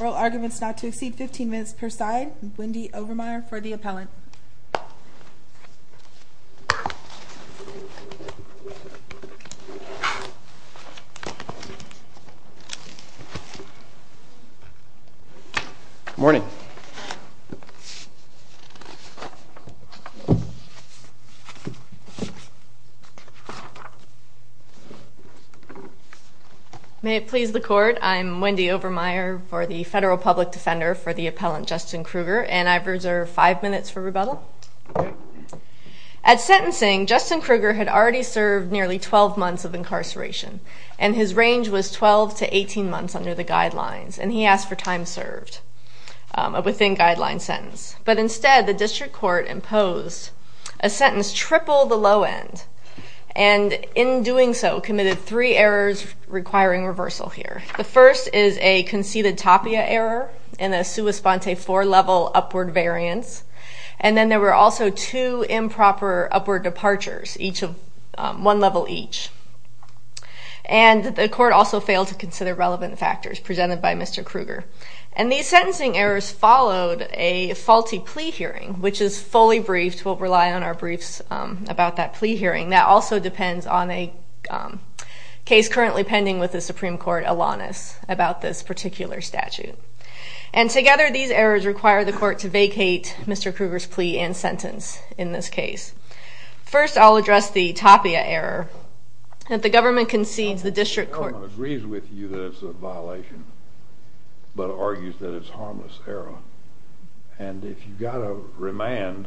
Oral arguments not to exceed 15 minutes per side, Wendy Overmeyer for the appellant. May it please the court, I'm Wendy Overmeyer for the federal public defender for the appellant Justin Krueger, and I've reserved five minutes for rebuttal. At sentencing, Justin Krueger had already served nearly 12 months of incarceration, and his range was 12 to 18 months under the guidelines, and he asked for time served within guideline sentence. But instead, the district court imposed a sentence triple the low end, and in doing so committed three errors requiring reversal here. The first is a conceded tapia error in a sua sponte four-level upward variance, and then there were also two improper upward departures, one level each. And the court also failed to consider relevant factors presented by Mr. Krueger. And these sentencing errors followed a faulty plea hearing, which is fully briefed, we'll rely on our briefs about that plea hearing, that also depends on a case currently pending with the Supreme Court, Alanis, about this particular statute. And together, these errors require the court to vacate Mr. Krueger's plea and sentence in this case. First, I'll address the tapia error that the government concedes the district court agrees with you that it's a violation, but argues that it's harmless error. And if you've got a remand,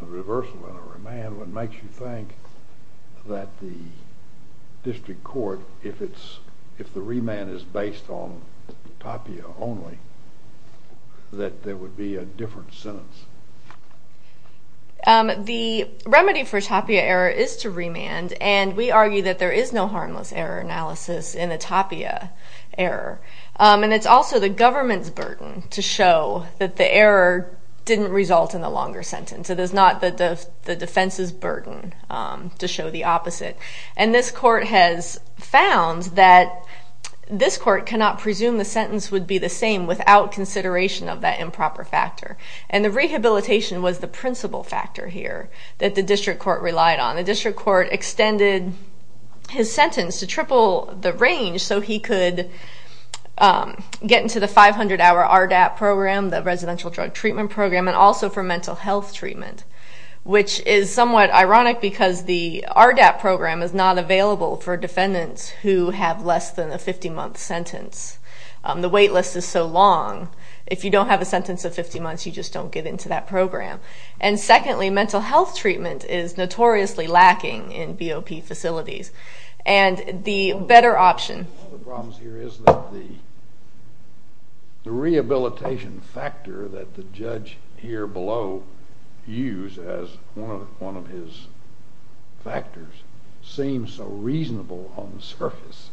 a reversal and a remand, what makes you think that the district court, if the remand is based on tapia only, that there would be a different sentence? The remedy for tapia error is to remand, and we argue that there is no harmless error analysis in the tapia error. And it's also the government's burden to show that the error didn't result in a longer sentence. It is not the defense's burden to show the opposite. And this court has found that this court cannot presume the sentence would be the same without consideration of that improper factor. And the rehabilitation was the principal factor here that the district court relied on. The district court extended his sentence to triple the range so he could get into the 500-hour RDAP program, the residential drug treatment program, and also for mental health treatment, which is somewhat ironic because the RDAP program is not available for defendants who have less than a 50-month sentence. The wait list is so long. If you don't have a sentence of 50 months, you just don't get into that program. And secondly, mental health treatment is notoriously lacking in BOP facilities. And the better option... One of the problems here is that the rehabilitation factor that the judge here below used as one of his factors seems so reasonable on the surface.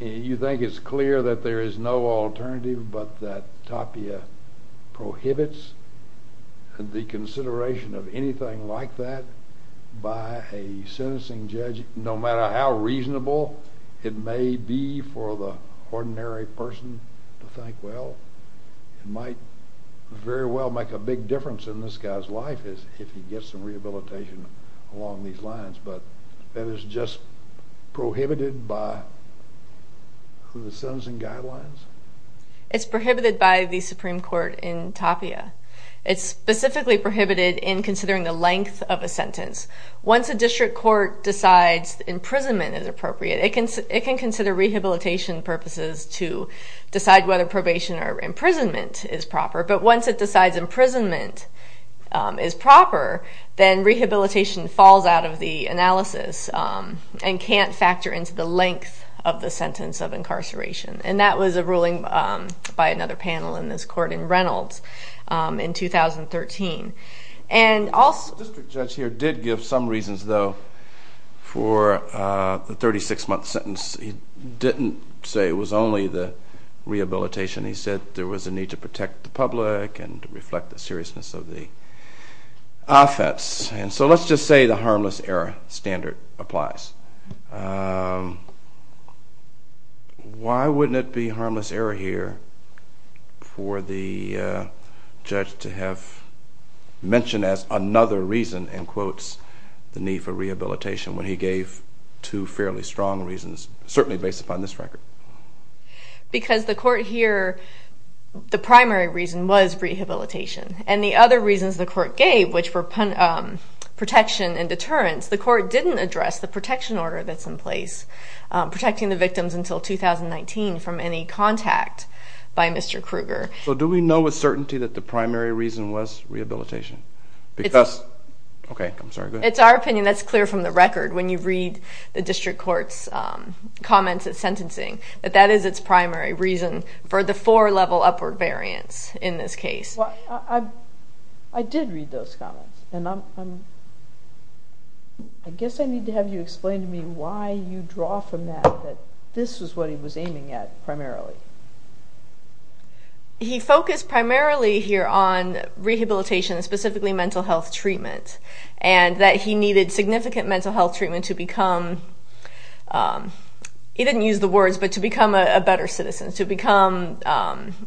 You think it's clear that there is no alternative but that tapia prohibits the consideration of anything like that by a sentencing judge, no matter how reasonable it may be for the ordinary person to think, well, it might very well make a big difference in this guy's life if he gets some rehabilitation along these lines. But that is just prohibited by the sentencing guidelines? It's prohibited by the Supreme Court in tapia. It's specifically prohibited in considering the length of a sentence. Once a district court decides imprisonment is appropriate, it can consider rehabilitation purposes to decide whether probation or imprisonment is proper. But once it decides imprisonment is proper, then rehabilitation falls out of the analysis and can't factor into the length of the sentence of incarceration. And that was a ruling by another panel in this court in Reynolds in 2013. And also... The district judge here did give some reasons, though, for the 36-month sentence. He didn't say it was only the rehabilitation. He said there was a need to protect the public and to reflect the seriousness of the offense. And so let's just say the harmless error standard applies. Why wouldn't it be harmless error here for the judge to have mentioned as another reason and quotes the need for rehabilitation when he gave two fairly strong reasons, certainly based upon this record? Because the court here... The primary reason was rehabilitation. And the other reasons the court gave, which were protection and deterrence, the court didn't address the protection order that's in place, protecting the victims until 2019 from any contact by Mr. Kruger. So do we know with certainty that the primary reason was rehabilitation? Because... Okay, I'm sorry, go ahead. It's our opinion. That's clear from the record. When you read the district court's comments at sentencing, that that is its primary reason for the four-level upward variance in this case. Well, I did read those comments, and I guess I need to have you explain to me why you draw from that that this was what he was aiming at primarily. He focused primarily here on rehabilitation, and specifically mental health treatment, and that he needed significant mental health treatment to become, he didn't use the words, but to become a better citizen, to become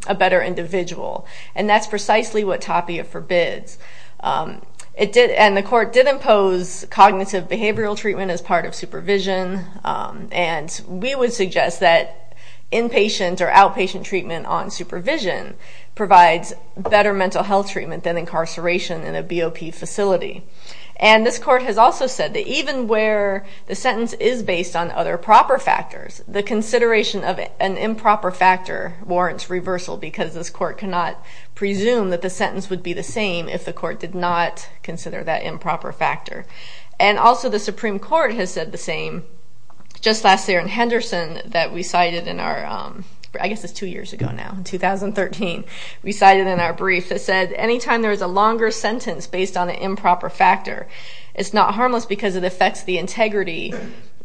a better individual. And that's precisely what Tapia forbids. And the court did impose cognitive behavioral treatment as part of supervision. And we would suggest that inpatient or outpatient treatment on supervision provides better mental health treatment than incarceration in a BOP facility. And this court has also said that even where the sentence is based on other proper factors, the consideration of an improper factor warrants reversal, because this court cannot presume that the sentence would be the same if the court did not consider that improper factor. And also the Supreme Court has said the same, just last year in Henderson, that we cited in our, I guess it's two years ago now, in 2013, we cited in our brief that said anytime there is a longer sentence based on an improper factor, it's not harmless because it affects the integrity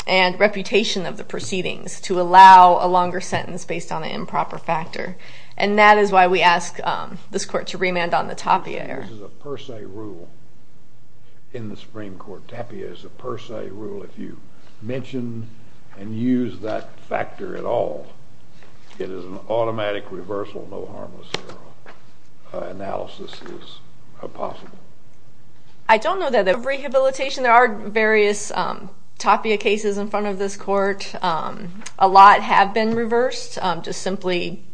and reputation of the proceedings to allow a longer sentence based on an improper factor. And that is why we ask this court to remand on the Tapia error. This is a per se rule in the Supreme Court. Tapia is a per se rule. If you mention and use that factor at all, it is an automatic reversal, no harmless analysis is possible. I don't know that. Rehabilitation, there are various Tapia cases in front of this court. A lot have been reversed, just simply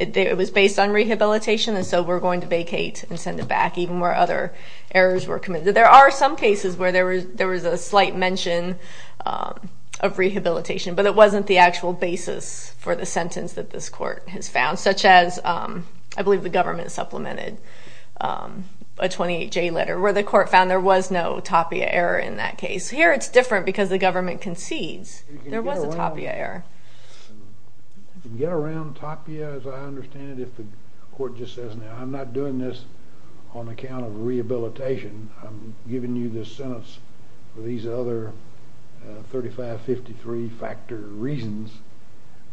it was based on rehabilitation, and so we're going to vacate and send it back, even where other errors were committed. There are some cases where there was a slight mention of rehabilitation, but it wasn't the actual basis for the sentence that this court has found, such as I believe the government supplemented a 28-J letter where the court found there was no Tapia error in that case. Here it's different because the government concedes there was a Tapia error. You can get around Tapia as I understand it if the court just says, now I'm not doing this on account of rehabilitation, I'm giving you this sentence for these other 35-53 factor reasons,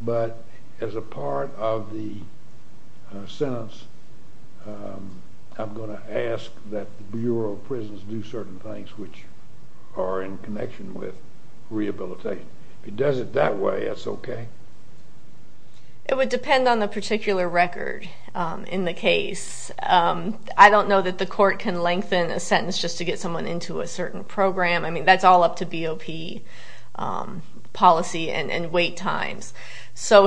but as a part of the sentence, I'm going to ask that the Bureau of Prisons do certain things which are in connection with rehabilitation. If it does it that way, that's okay. It would depend on the particular record in the case. I don't know that the court can lengthen a sentence just to get someone into a certain program. That's all up to BOP policy and wait times.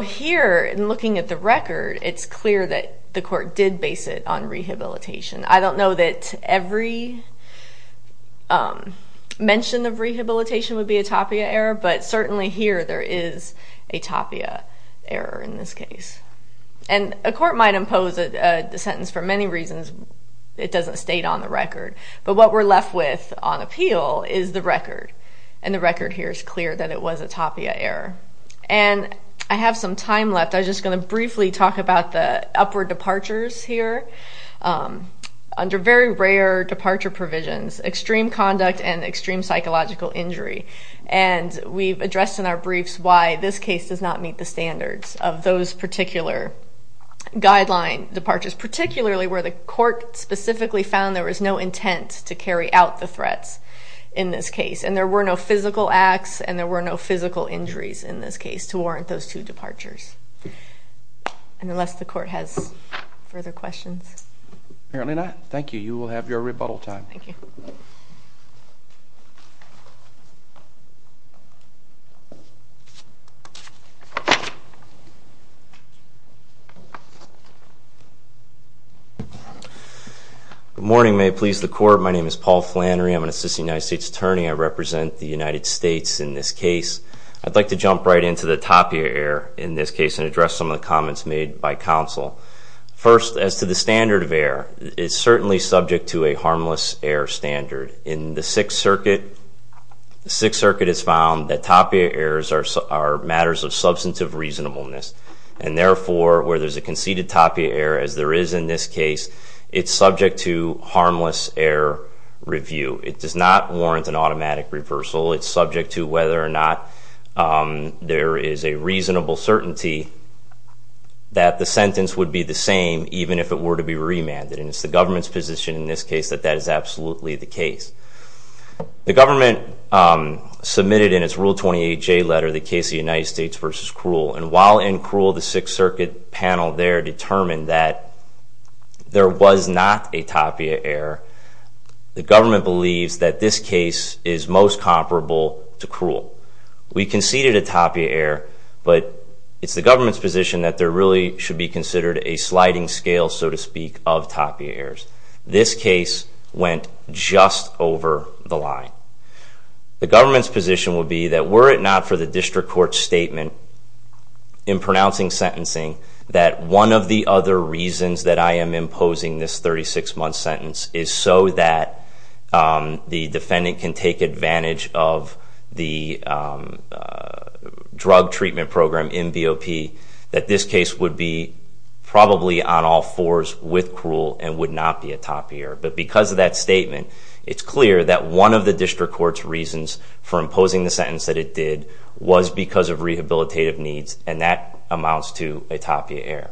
Here in looking at the record, it's clear that the court did base it on rehabilitation. I don't know that every mention of rehabilitation would be a Tapia error, but certainly here there is a Tapia error in this case. A court might impose a sentence for many reasons, it doesn't state on the record, but what we're looking at is the record, and the record here is clear that it was a Tapia error. I have some time left, I'm just going to briefly talk about the upward departures here under very rare departure provisions, extreme conduct and extreme psychological injury. We've addressed in our briefs why this case does not meet the standards of those particular guideline departures, particularly where the court specifically found there was no intent to carry out the threats in this case, and there were no physical acts and there were no physical injuries in this case to warrant those two departures. Unless the court has further questions. Apparently not. Thank you, you will have your rebuttal time. Thank you. Good morning, may it please the court, my name is Paul Flannery, I'm an assistant United States Attorney, I represent the United States in this case. I'd like to jump right into the Tapia error in this case and address some of the comments made by counsel. First as to the standard of error, it's certainly subject to a harmless error standard. In the Sixth Circuit, the Sixth Circuit has found that Tapia errors are matters of substantive reasonableness and therefore where there's a conceded Tapia error as there is in this case, it's subject to harmless error review. It does not warrant an automatic reversal, it's subject to whether or not there is a reasonable certainty that the sentence would be the same even if it were to be remanded and it's the government's position in this case that that is absolutely the case. The government submitted in its Rule 28J letter the case of the United States v. Krull and while in Krull the Sixth Circuit panel there determined that there was not a Tapia error, the government believes that this case is most comparable to Krull. We conceded a Tapia error but it's the government's position that there really should be considered a sliding scale, so to speak, of Tapia errors. This case went just over the line. The government's position would be that were it not for the District Court's statement in pronouncing sentencing that one of the other reasons that I am imposing this 36-month sentence is so that the defendant can take advantage of the drug treatment program in probably on all fours with Krull and would not be a Tapia error. But because of that statement it's clear that one of the District Court's reasons for imposing the sentence that it did was because of rehabilitative needs and that amounts to a Tapia error.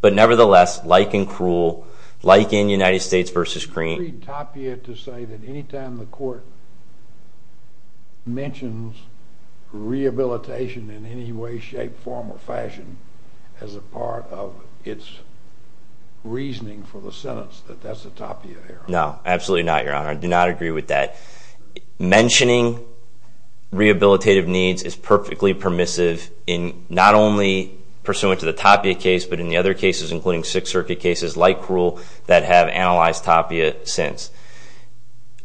But nevertheless, like in Krull, like in United States v. Green, I believe Tapia to say that any time the court mentions rehabilitation in any way, shape, form, or fashion as a part of its reasoning for the sentence that that's a Tapia error. No, absolutely not, Your Honor. I do not agree with that. Mentioning rehabilitative needs is perfectly permissive in not only pursuant to the Tapia case but in the other cases including Sixth Circuit cases like Krull that have analyzed Tapia since.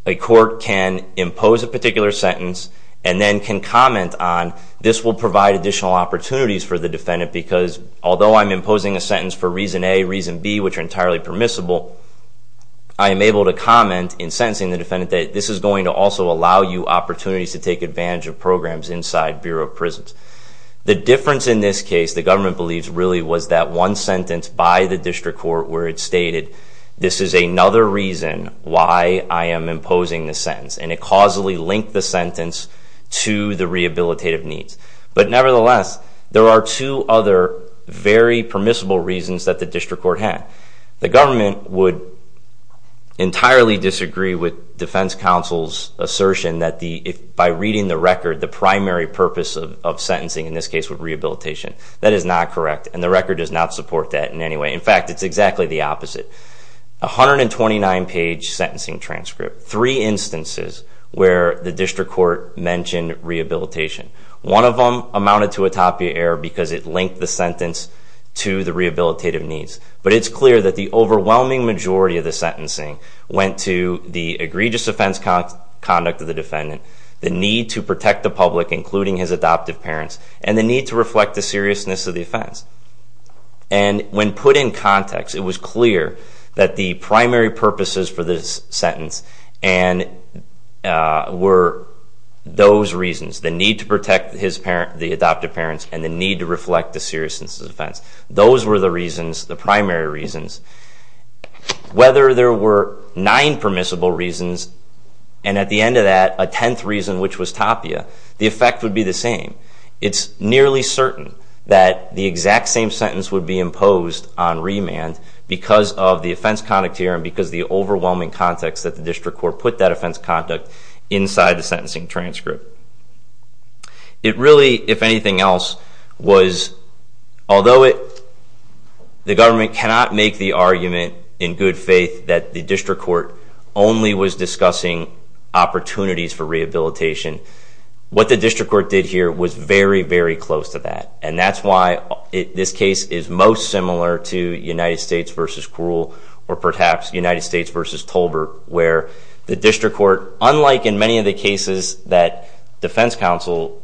A court can impose a particular sentence and then can comment on this will provide additional opportunities for the defendant because although I'm imposing a sentence for reason A, reason B, which are entirely permissible, I am able to comment in sentencing the defendant that this is going to also allow you opportunities to take advantage of programs inside Bureau of Prisons. The difference in this case, the government believes, really was that one sentence by the District Court where it stated this is another reason why I am imposing the sentence and it causally linked the sentence to the rehabilitative needs. But nevertheless, there are two other very permissible reasons that the District Court had. The government would entirely disagree with Defense Counsel's assertion that by reading the record, the primary purpose of sentencing in this case would be rehabilitation. That is not correct and the record does not support that in any way. In fact, it's exactly the opposite. A 129-page sentencing transcript, three instances where the District Court mentioned rehabilitation. One of them amounted to a topiary error because it linked the sentence to the rehabilitative needs. But it's clear that the overwhelming majority of the sentencing went to the egregious offense conduct of the defendant, the need to protect the public, including his adoptive parents, and the need to reflect the seriousness of the offense. And when put in context, it was clear that the primary purposes for this sentence were those reasons, the need to protect the adoptive parents and the need to reflect the seriousness of the offense. Those were the reasons, the primary reasons. Whether there were nine permissible reasons and at the end of that, a tenth reason which was topia, the effect would be the same. It's nearly certain that the exact same sentence would be imposed on remand because of the offense conduct here and because of the overwhelming context that the District Court put that offense conduct inside the sentencing transcript. It really, if anything else, was although the government cannot make the argument in good faith that the District Court only was discussing opportunities for rehabilitation, what the District Court did here was very, very close to that. And that's why this case is most similar to United States v. Krull or perhaps United States v. Tolbert where the District Court, unlike in many of the cases that defense counsel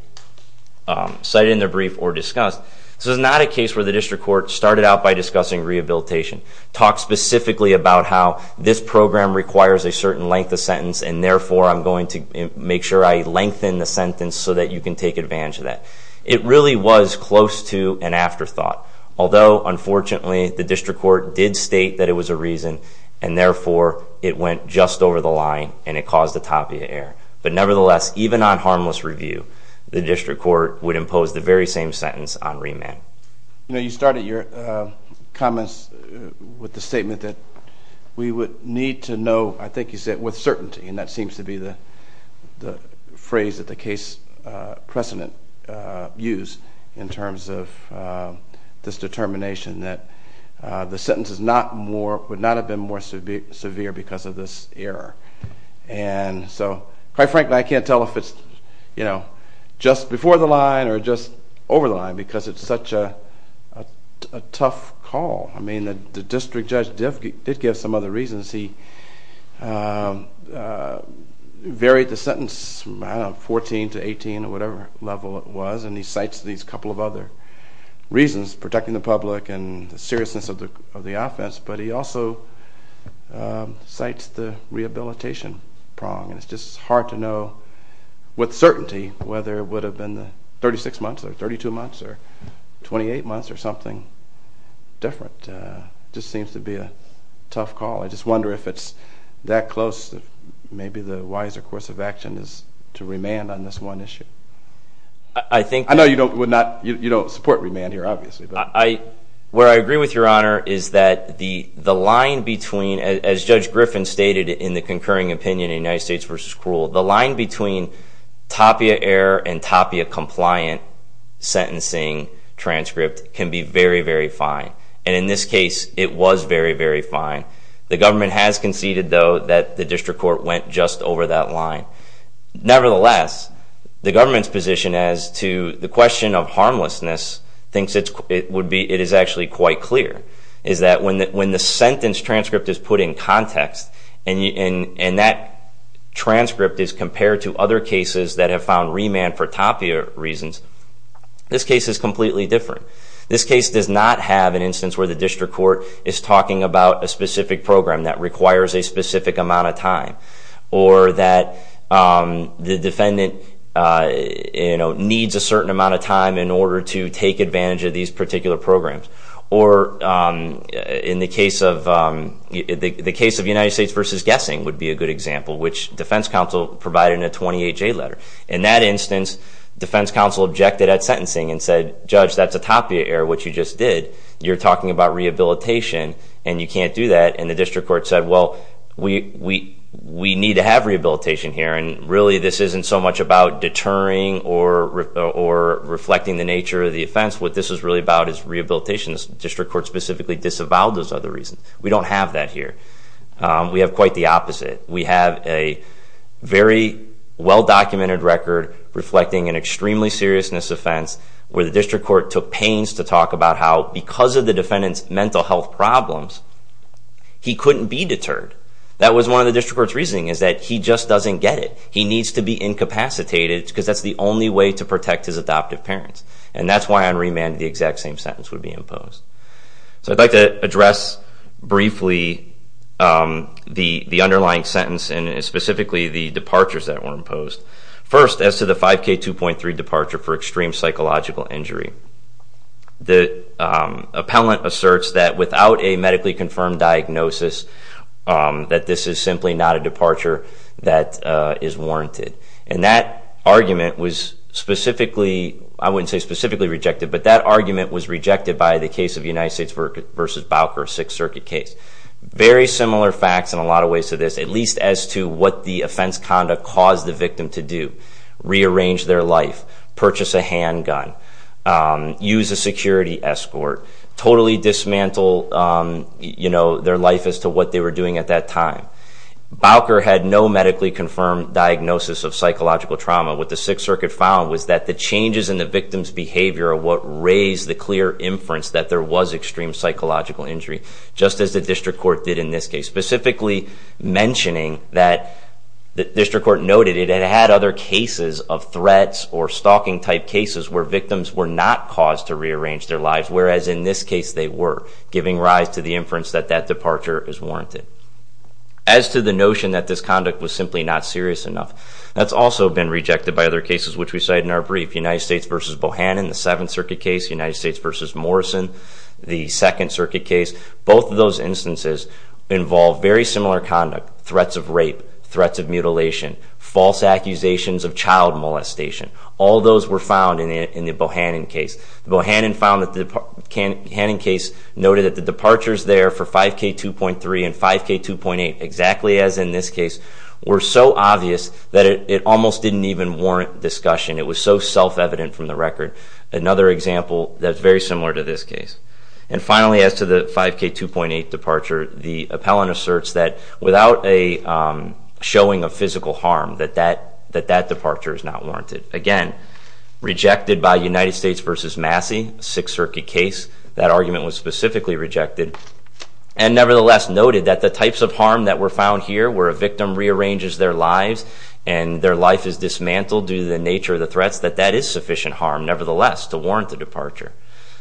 cited in their brief or discussed, this was not a case where the District Court started out by discussing rehabilitation, talked specifically about how this program requires a certain length of sentence and therefore I'm going to make sure I lengthen the sentence so that you can take advantage of that. It really was close to an afterthought, although unfortunately the District Court did state that it was a reason and therefore it went just over the line and it caused a tapia error. But nevertheless, even on harmless review, the District Court would impose the very same sentence on remand. You know, you started your comments with the statement that we would need to know, I think you said, with certainty. And that seems to be the phrase that the case precedent used in terms of this determination that the sentence would not have been more severe because of this error. And so, quite frankly, I can't tell if it's just before the line or just over the line because it's such a tough call. I mean, the District Judge did give some other reasons. He varied the sentence, I don't know, 14 to 18 or whatever level it was and he cites these couple of other reasons, protecting the public and the seriousness of the offense, but he also cites the rehabilitation prong and it's just hard to know with certainty whether it would have been 36 months or 32 months or 28 months or something different. Just seems to be a tough call. I just wonder if it's that close, maybe the wiser course of action is to remand on this one issue. I know you don't support remand here, obviously. Where I agree with Your Honor is that the line between, as Judge Griffin stated in the concurring opinion in United States v. Krull, the line between Tapia error and Tapia compliant sentencing transcript can be very, very fine. And in this case, it was very, very fine. The government has conceded, though, that the District Court went just over that line. Nevertheless, the government's position as to the question of harmlessness thinks it would be, it is actually quite clear, is that when the sentence transcript is put in context and that transcript is compared to other cases that have found remand for Tapia reasons, this case is completely different. This case does not have an instance where the District Court is talking about a specific program that requires a specific amount of time or that the defendant needs a certain amount of time in order to take advantage of these particular programs. Or in the case of United States v. Guessing would be a good example, which defense counsel provided in a 28-J letter. In that instance, defense counsel objected at sentencing and said, Judge, that's a Tapia error, which you just did. You're talking about rehabilitation and you can't do that. And the District Court said, well, we need to have rehabilitation here. And really, this isn't so much about deterring or reflecting the nature of the offense. What this is really about is rehabilitation. The District Court specifically disavowed those other reasons. We don't have that here. We have quite the opposite. We have a very well-documented record reflecting an extremely seriousness offense, where the District Court took pains to talk about how because of the defendant's mental health problems, he couldn't be deterred. That was one of the District Court's reasoning is that he just doesn't get it. He needs to be incapacitated because that's the only way to protect his adoptive parents. And that's why on remand the exact same sentence would be imposed. So I'd like to address briefly the underlying sentence and specifically the departures that were imposed. First, as to the 5K2.3 departure for extreme psychological injury, the appellant asserts that without a medically confirmed diagnosis, that this is simply not a departure that is warranted. And that argument was specifically, I wouldn't say specifically rejected, but that argument was rejected by the case of United States v. Bowker, Sixth Circuit case. Very similar facts in a lot of ways to this, at least as to what the offense conduct caused the victim to do. Rearrange their life. Purchase a handgun. Use a security escort. Totally dismantle their life as to what they were doing at that time. Bowker had no medically confirmed diagnosis of psychological trauma. What the Sixth Circuit found was that the changes in the victim's behavior are what raised the clear inference that there was extreme psychological injury, just as the District Court did in this case. Specifically mentioning that the District Court noted it had other cases of threats or stalking type cases where victims were not caused to rearrange their lives. Whereas in this case, they were, giving rise to the inference that that departure is warranted. As to the notion that this conduct was simply not serious enough, that's also been rejected by other cases, which we cite in our brief. United States v. Bohannon, the Seventh Circuit case, United States v. Morrison, the Second Circuit case. Both of those instances involve very similar conduct. Threats of rape, threats of mutilation, false accusations of child molestation. All those were found in the Bohannon case. Bohannon found that the Bohannon case noted that the departures there for 5K2.3 and 5K2.8, exactly as in this case, were so obvious that it almost didn't even warrant discussion. It was so self-evident from the record. Another example that's very similar to this case. And finally, as to the 5K2.8 departure, the appellant asserts that without a showing of physical harm, that that departure is not warranted. Again, rejected by United States v. Massey, Sixth Circuit case. That argument was specifically rejected. And nevertheless noted that the types of harm that were found here, where a victim rearranges their lives and their life is dismantled due to the nature of the threats, that that is sufficient harm, nevertheless, to warrant the departure.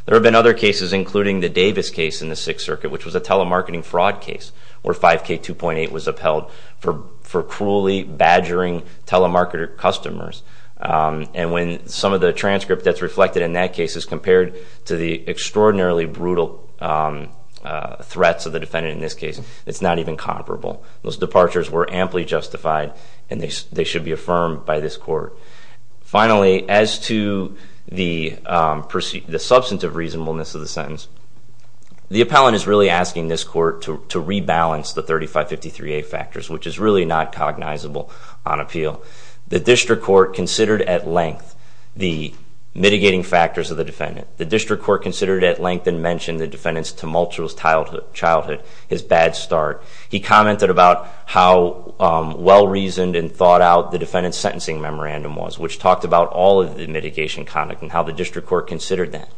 There have been other cases, including the Davis case in the Sixth Circuit, which was a telemarketing fraud case, where 5K2.8 was upheld for cruelly badgering telemarketer customers. And when some of the transcript that's reflected in that case is compared to the extraordinarily brutal threats of the defendant in this case, it's not even comparable. Those departures were amply justified and they should be affirmed by this court. Finally, as to the substantive reasonableness of the sentence, the appellant is really asking this court to rebalance the 3553A factors, which is really not cognizable on appeal. The district court considered at length the mitigating factors of the defendant. The district court considered at length and mentioned the defendant's tumultuous childhood, his bad start. He commented about how well-reasoned and thought out the defendant's sentencing memorandum was, which talked about all of the mitigation conduct and how the district court considered that.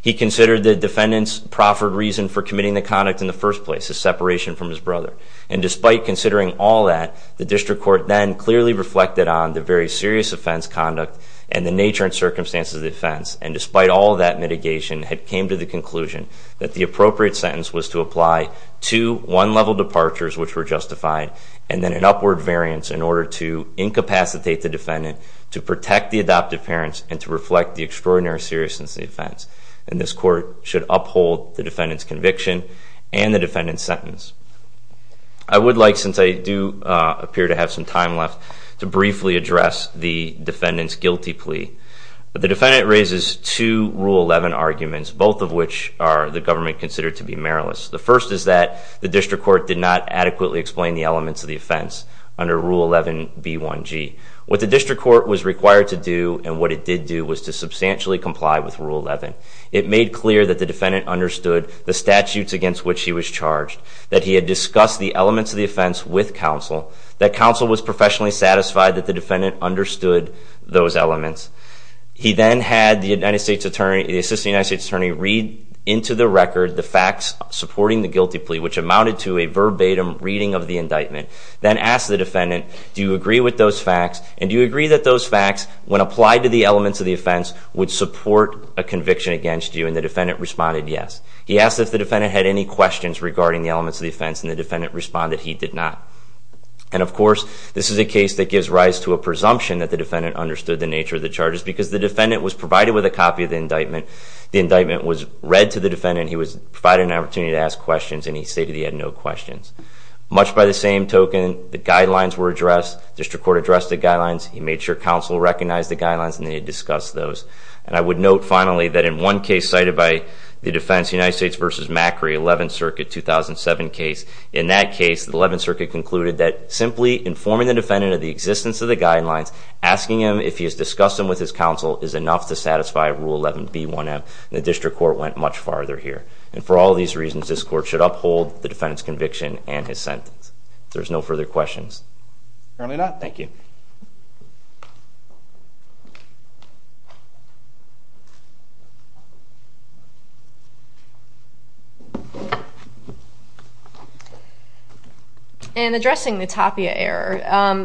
He considered the defendant's proffered reason for committing the conduct in the first place, his separation from his brother. And despite considering all that, the district court then clearly reflected on the very serious offense conduct and the nature and circumstances of the offense. And despite all of that mitigation, it came to the conclusion that the appropriate sentence was to apply two one-level departures, which were justified, and then an upward variance in order to incapacitate the defendant, to protect the adoptive parents, and to reflect the extraordinary seriousness of the offense. And this court should uphold the defendant's conviction and the defendant's sentence. I would like, since I do appear to have some time left, to briefly address the defendant's guilty plea. But the defendant raises two Rule 11 arguments, both of which are the government considered to be meriless. The first is that the district court did not adequately explain the elements of the offense under Rule 11b1g. What the district court was required to do, and what it did do, was to substantially comply with Rule 11. It made clear that the defendant understood the statutes against which he was charged, that he had discussed the elements of the offense with counsel, that counsel was professionally satisfied that the defendant understood those elements. He then had the assistant United States attorney read into the record the facts supporting the guilty plea, which amounted to a verbatim reading of the indictment, then asked the facts, and do you agree that those facts, when applied to the elements of the offense, would support a conviction against you? And the defendant responded yes. He asked if the defendant had any questions regarding the elements of the offense, and the defendant responded he did not. And of course, this is a case that gives rise to a presumption that the defendant understood the nature of the charges, because the defendant was provided with a copy of the indictment, the indictment was read to the defendant, he was provided an opportunity to ask questions, and he stated he had no questions. Much by the same token, the guidelines were addressed, district court addressed the guidelines, he made sure counsel recognized the guidelines, and they had discussed those. And I would note, finally, that in one case cited by the defense, United States v. Macri, 11th Circuit, 2007 case, in that case, the 11th Circuit concluded that simply informing the defendant of the existence of the guidelines, asking him if he has discussed them with his counsel is enough to satisfy Rule 11B1M, and the district court went much farther here. And for all these reasons, this court should uphold the defendant's conviction and his sentence. If there's no further questions. Apparently not. Thank you. In addressing the Tapia error,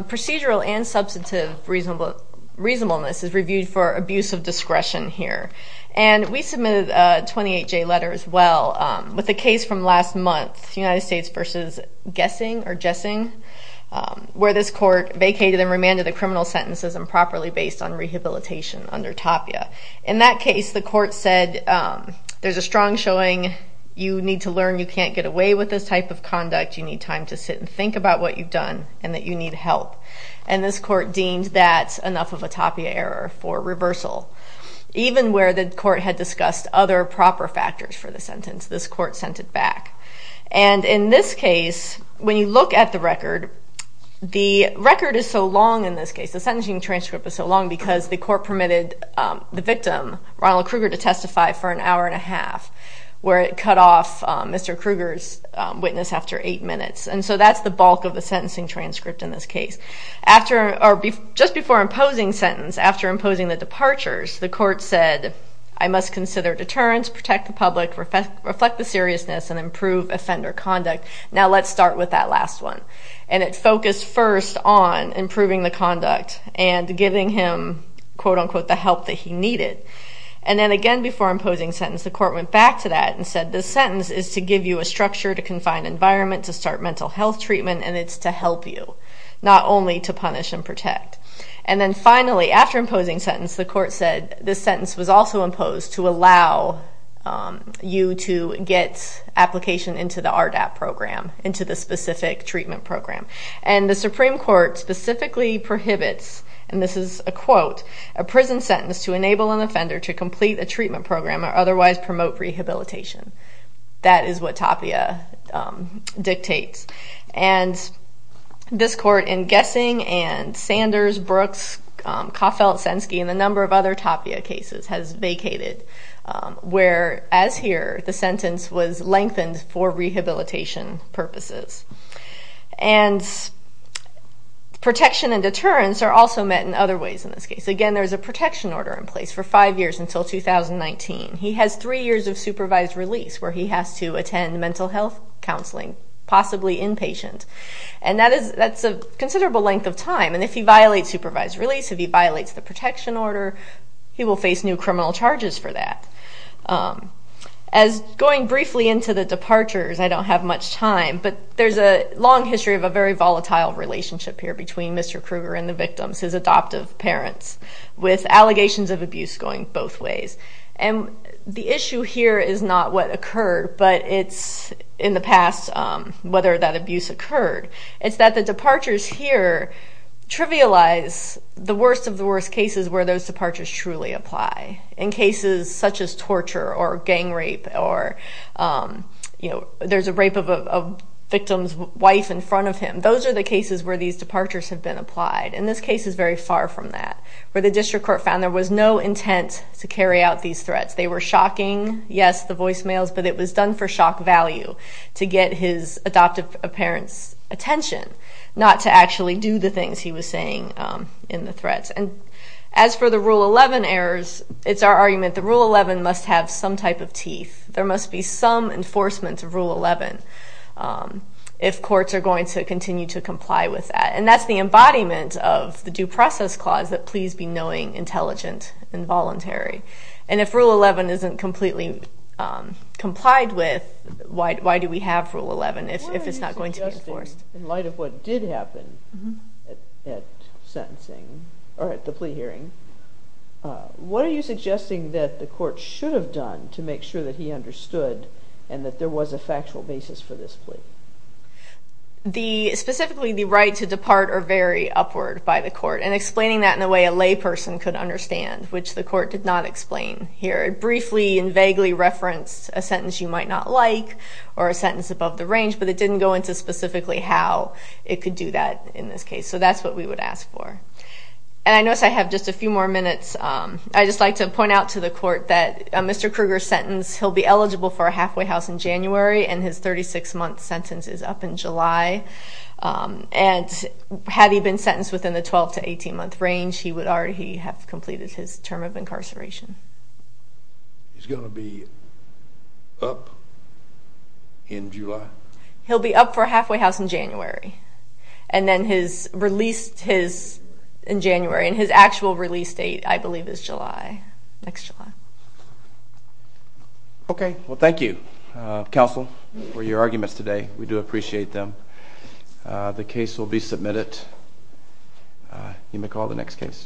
procedural and substantive reasonableness is reviewed for abuse of discretion here. And we submitted a 28-J letter as well, with a case from last month, United States v. Gessing, where this court vacated and remanded the criminal sentences improperly based on rehabilitation under Tapia. In that case, the court said, there's a strong showing, you need to learn you can't get away with this type of conduct, you need time to sit and think about what you've done, and that you need help. And this court deemed that enough of a Tapia error for reversal. Even where the court had discussed other proper factors for the sentence, this court sent it back. And in this case, when you look at the record, the record is so long in this case, the sentencing transcript is so long because the court permitted the victim, Ronald Kruger, to testify for an hour and a half, where it cut off Mr. Kruger's witness after eight minutes. And so that's the bulk of the sentencing transcript in this case. Just before imposing sentence, after imposing the departures, the court said, I must consider deterrence, protect the public, reflect the seriousness, and improve offender conduct. Now let's start with that last one. And it focused first on improving the conduct and giving him, quote unquote, the help that he needed. And then again before imposing sentence, the court went back to that and said, this sentence is to give you a structure to confine environment, to start mental health treatment, and it's to help you. Not only to punish and protect. And then finally, after imposing sentence, the court said, this sentence was also imposed to allow you to get application into the RDAP program, into the specific treatment program. And the Supreme Court specifically prohibits, and this is a quote, a prison sentence to enable an offender to complete a treatment program or otherwise promote rehabilitation. That is what Tapia dictates. And this court, in guessing, and Sanders, Brooks, Caufelt, Senske, and a number of other Tapia cases has vacated, whereas here, the sentence was lengthened for rehabilitation purposes. And protection and deterrence are also met in other ways in this case. Again, there's a protection order in place for five years until 2019. He has three years of supervised release where he has to attend mental health counseling, possibly inpatient. And that's a considerable length of time. And if he violates supervised release, if he violates the protection order, he will face new criminal charges for that. As going briefly into the departures, I don't have much time, but there's a long history of a very volatile relationship here between Mr. Kruger and the victims, his adoptive parents, with allegations of abuse going both ways. And the issue here is not what occurred, but it's, in the past, whether that abuse occurred. It's that the departures here trivialize the worst of the worst cases where those departures truly apply. In cases such as torture or gang rape or, you know, there's a rape of a victim's wife in front of him. Those are the cases where these departures have been applied, and this case is very far from that. Where the district court found there was no intent to carry out these threats. They were shocking, yes, the voicemails, but it was done for shock value to get his adoptive parents' attention, not to actually do the things he was saying in the threats. And as for the Rule 11 errors, it's our argument that Rule 11 must have some type of teeth. There must be some enforcement of Rule 11 if courts are going to continue to comply with that. And that's the embodiment of the Due Process Clause, that pleas be knowing, intelligent, and voluntary. And if Rule 11 isn't completely complied with, why do we have Rule 11 if it's not going to be enforced? What are you suggesting, in light of what did happen at sentencing, or at the plea hearing, what are you suggesting that the court should have done to make sure that he understood and that there was a factual basis for this plea? Specifically, the right to depart or vary upward by the court, and explaining that in a way a layperson could understand, which the court did not explain here. It briefly and vaguely referenced a sentence you might not like, or a sentence above the range, but it didn't go into specifically how it could do that in this case. So that's what we would ask for. And I notice I have just a few more minutes. I'd just like to point out to the court that Mr. Kruger's sentence, he'll be eligible for his sentence is up in July, and had he been sentenced within the 12 to 18-month range, he would already have completed his term of incarceration. He's going to be up in July? He'll be up for halfway house in January. And then his release in January, and his actual release date, I believe, is July, next July. Okay. Well, thank you, counsel, for your arguments today. We do appreciate them. The case will be submitted. You may call the next case.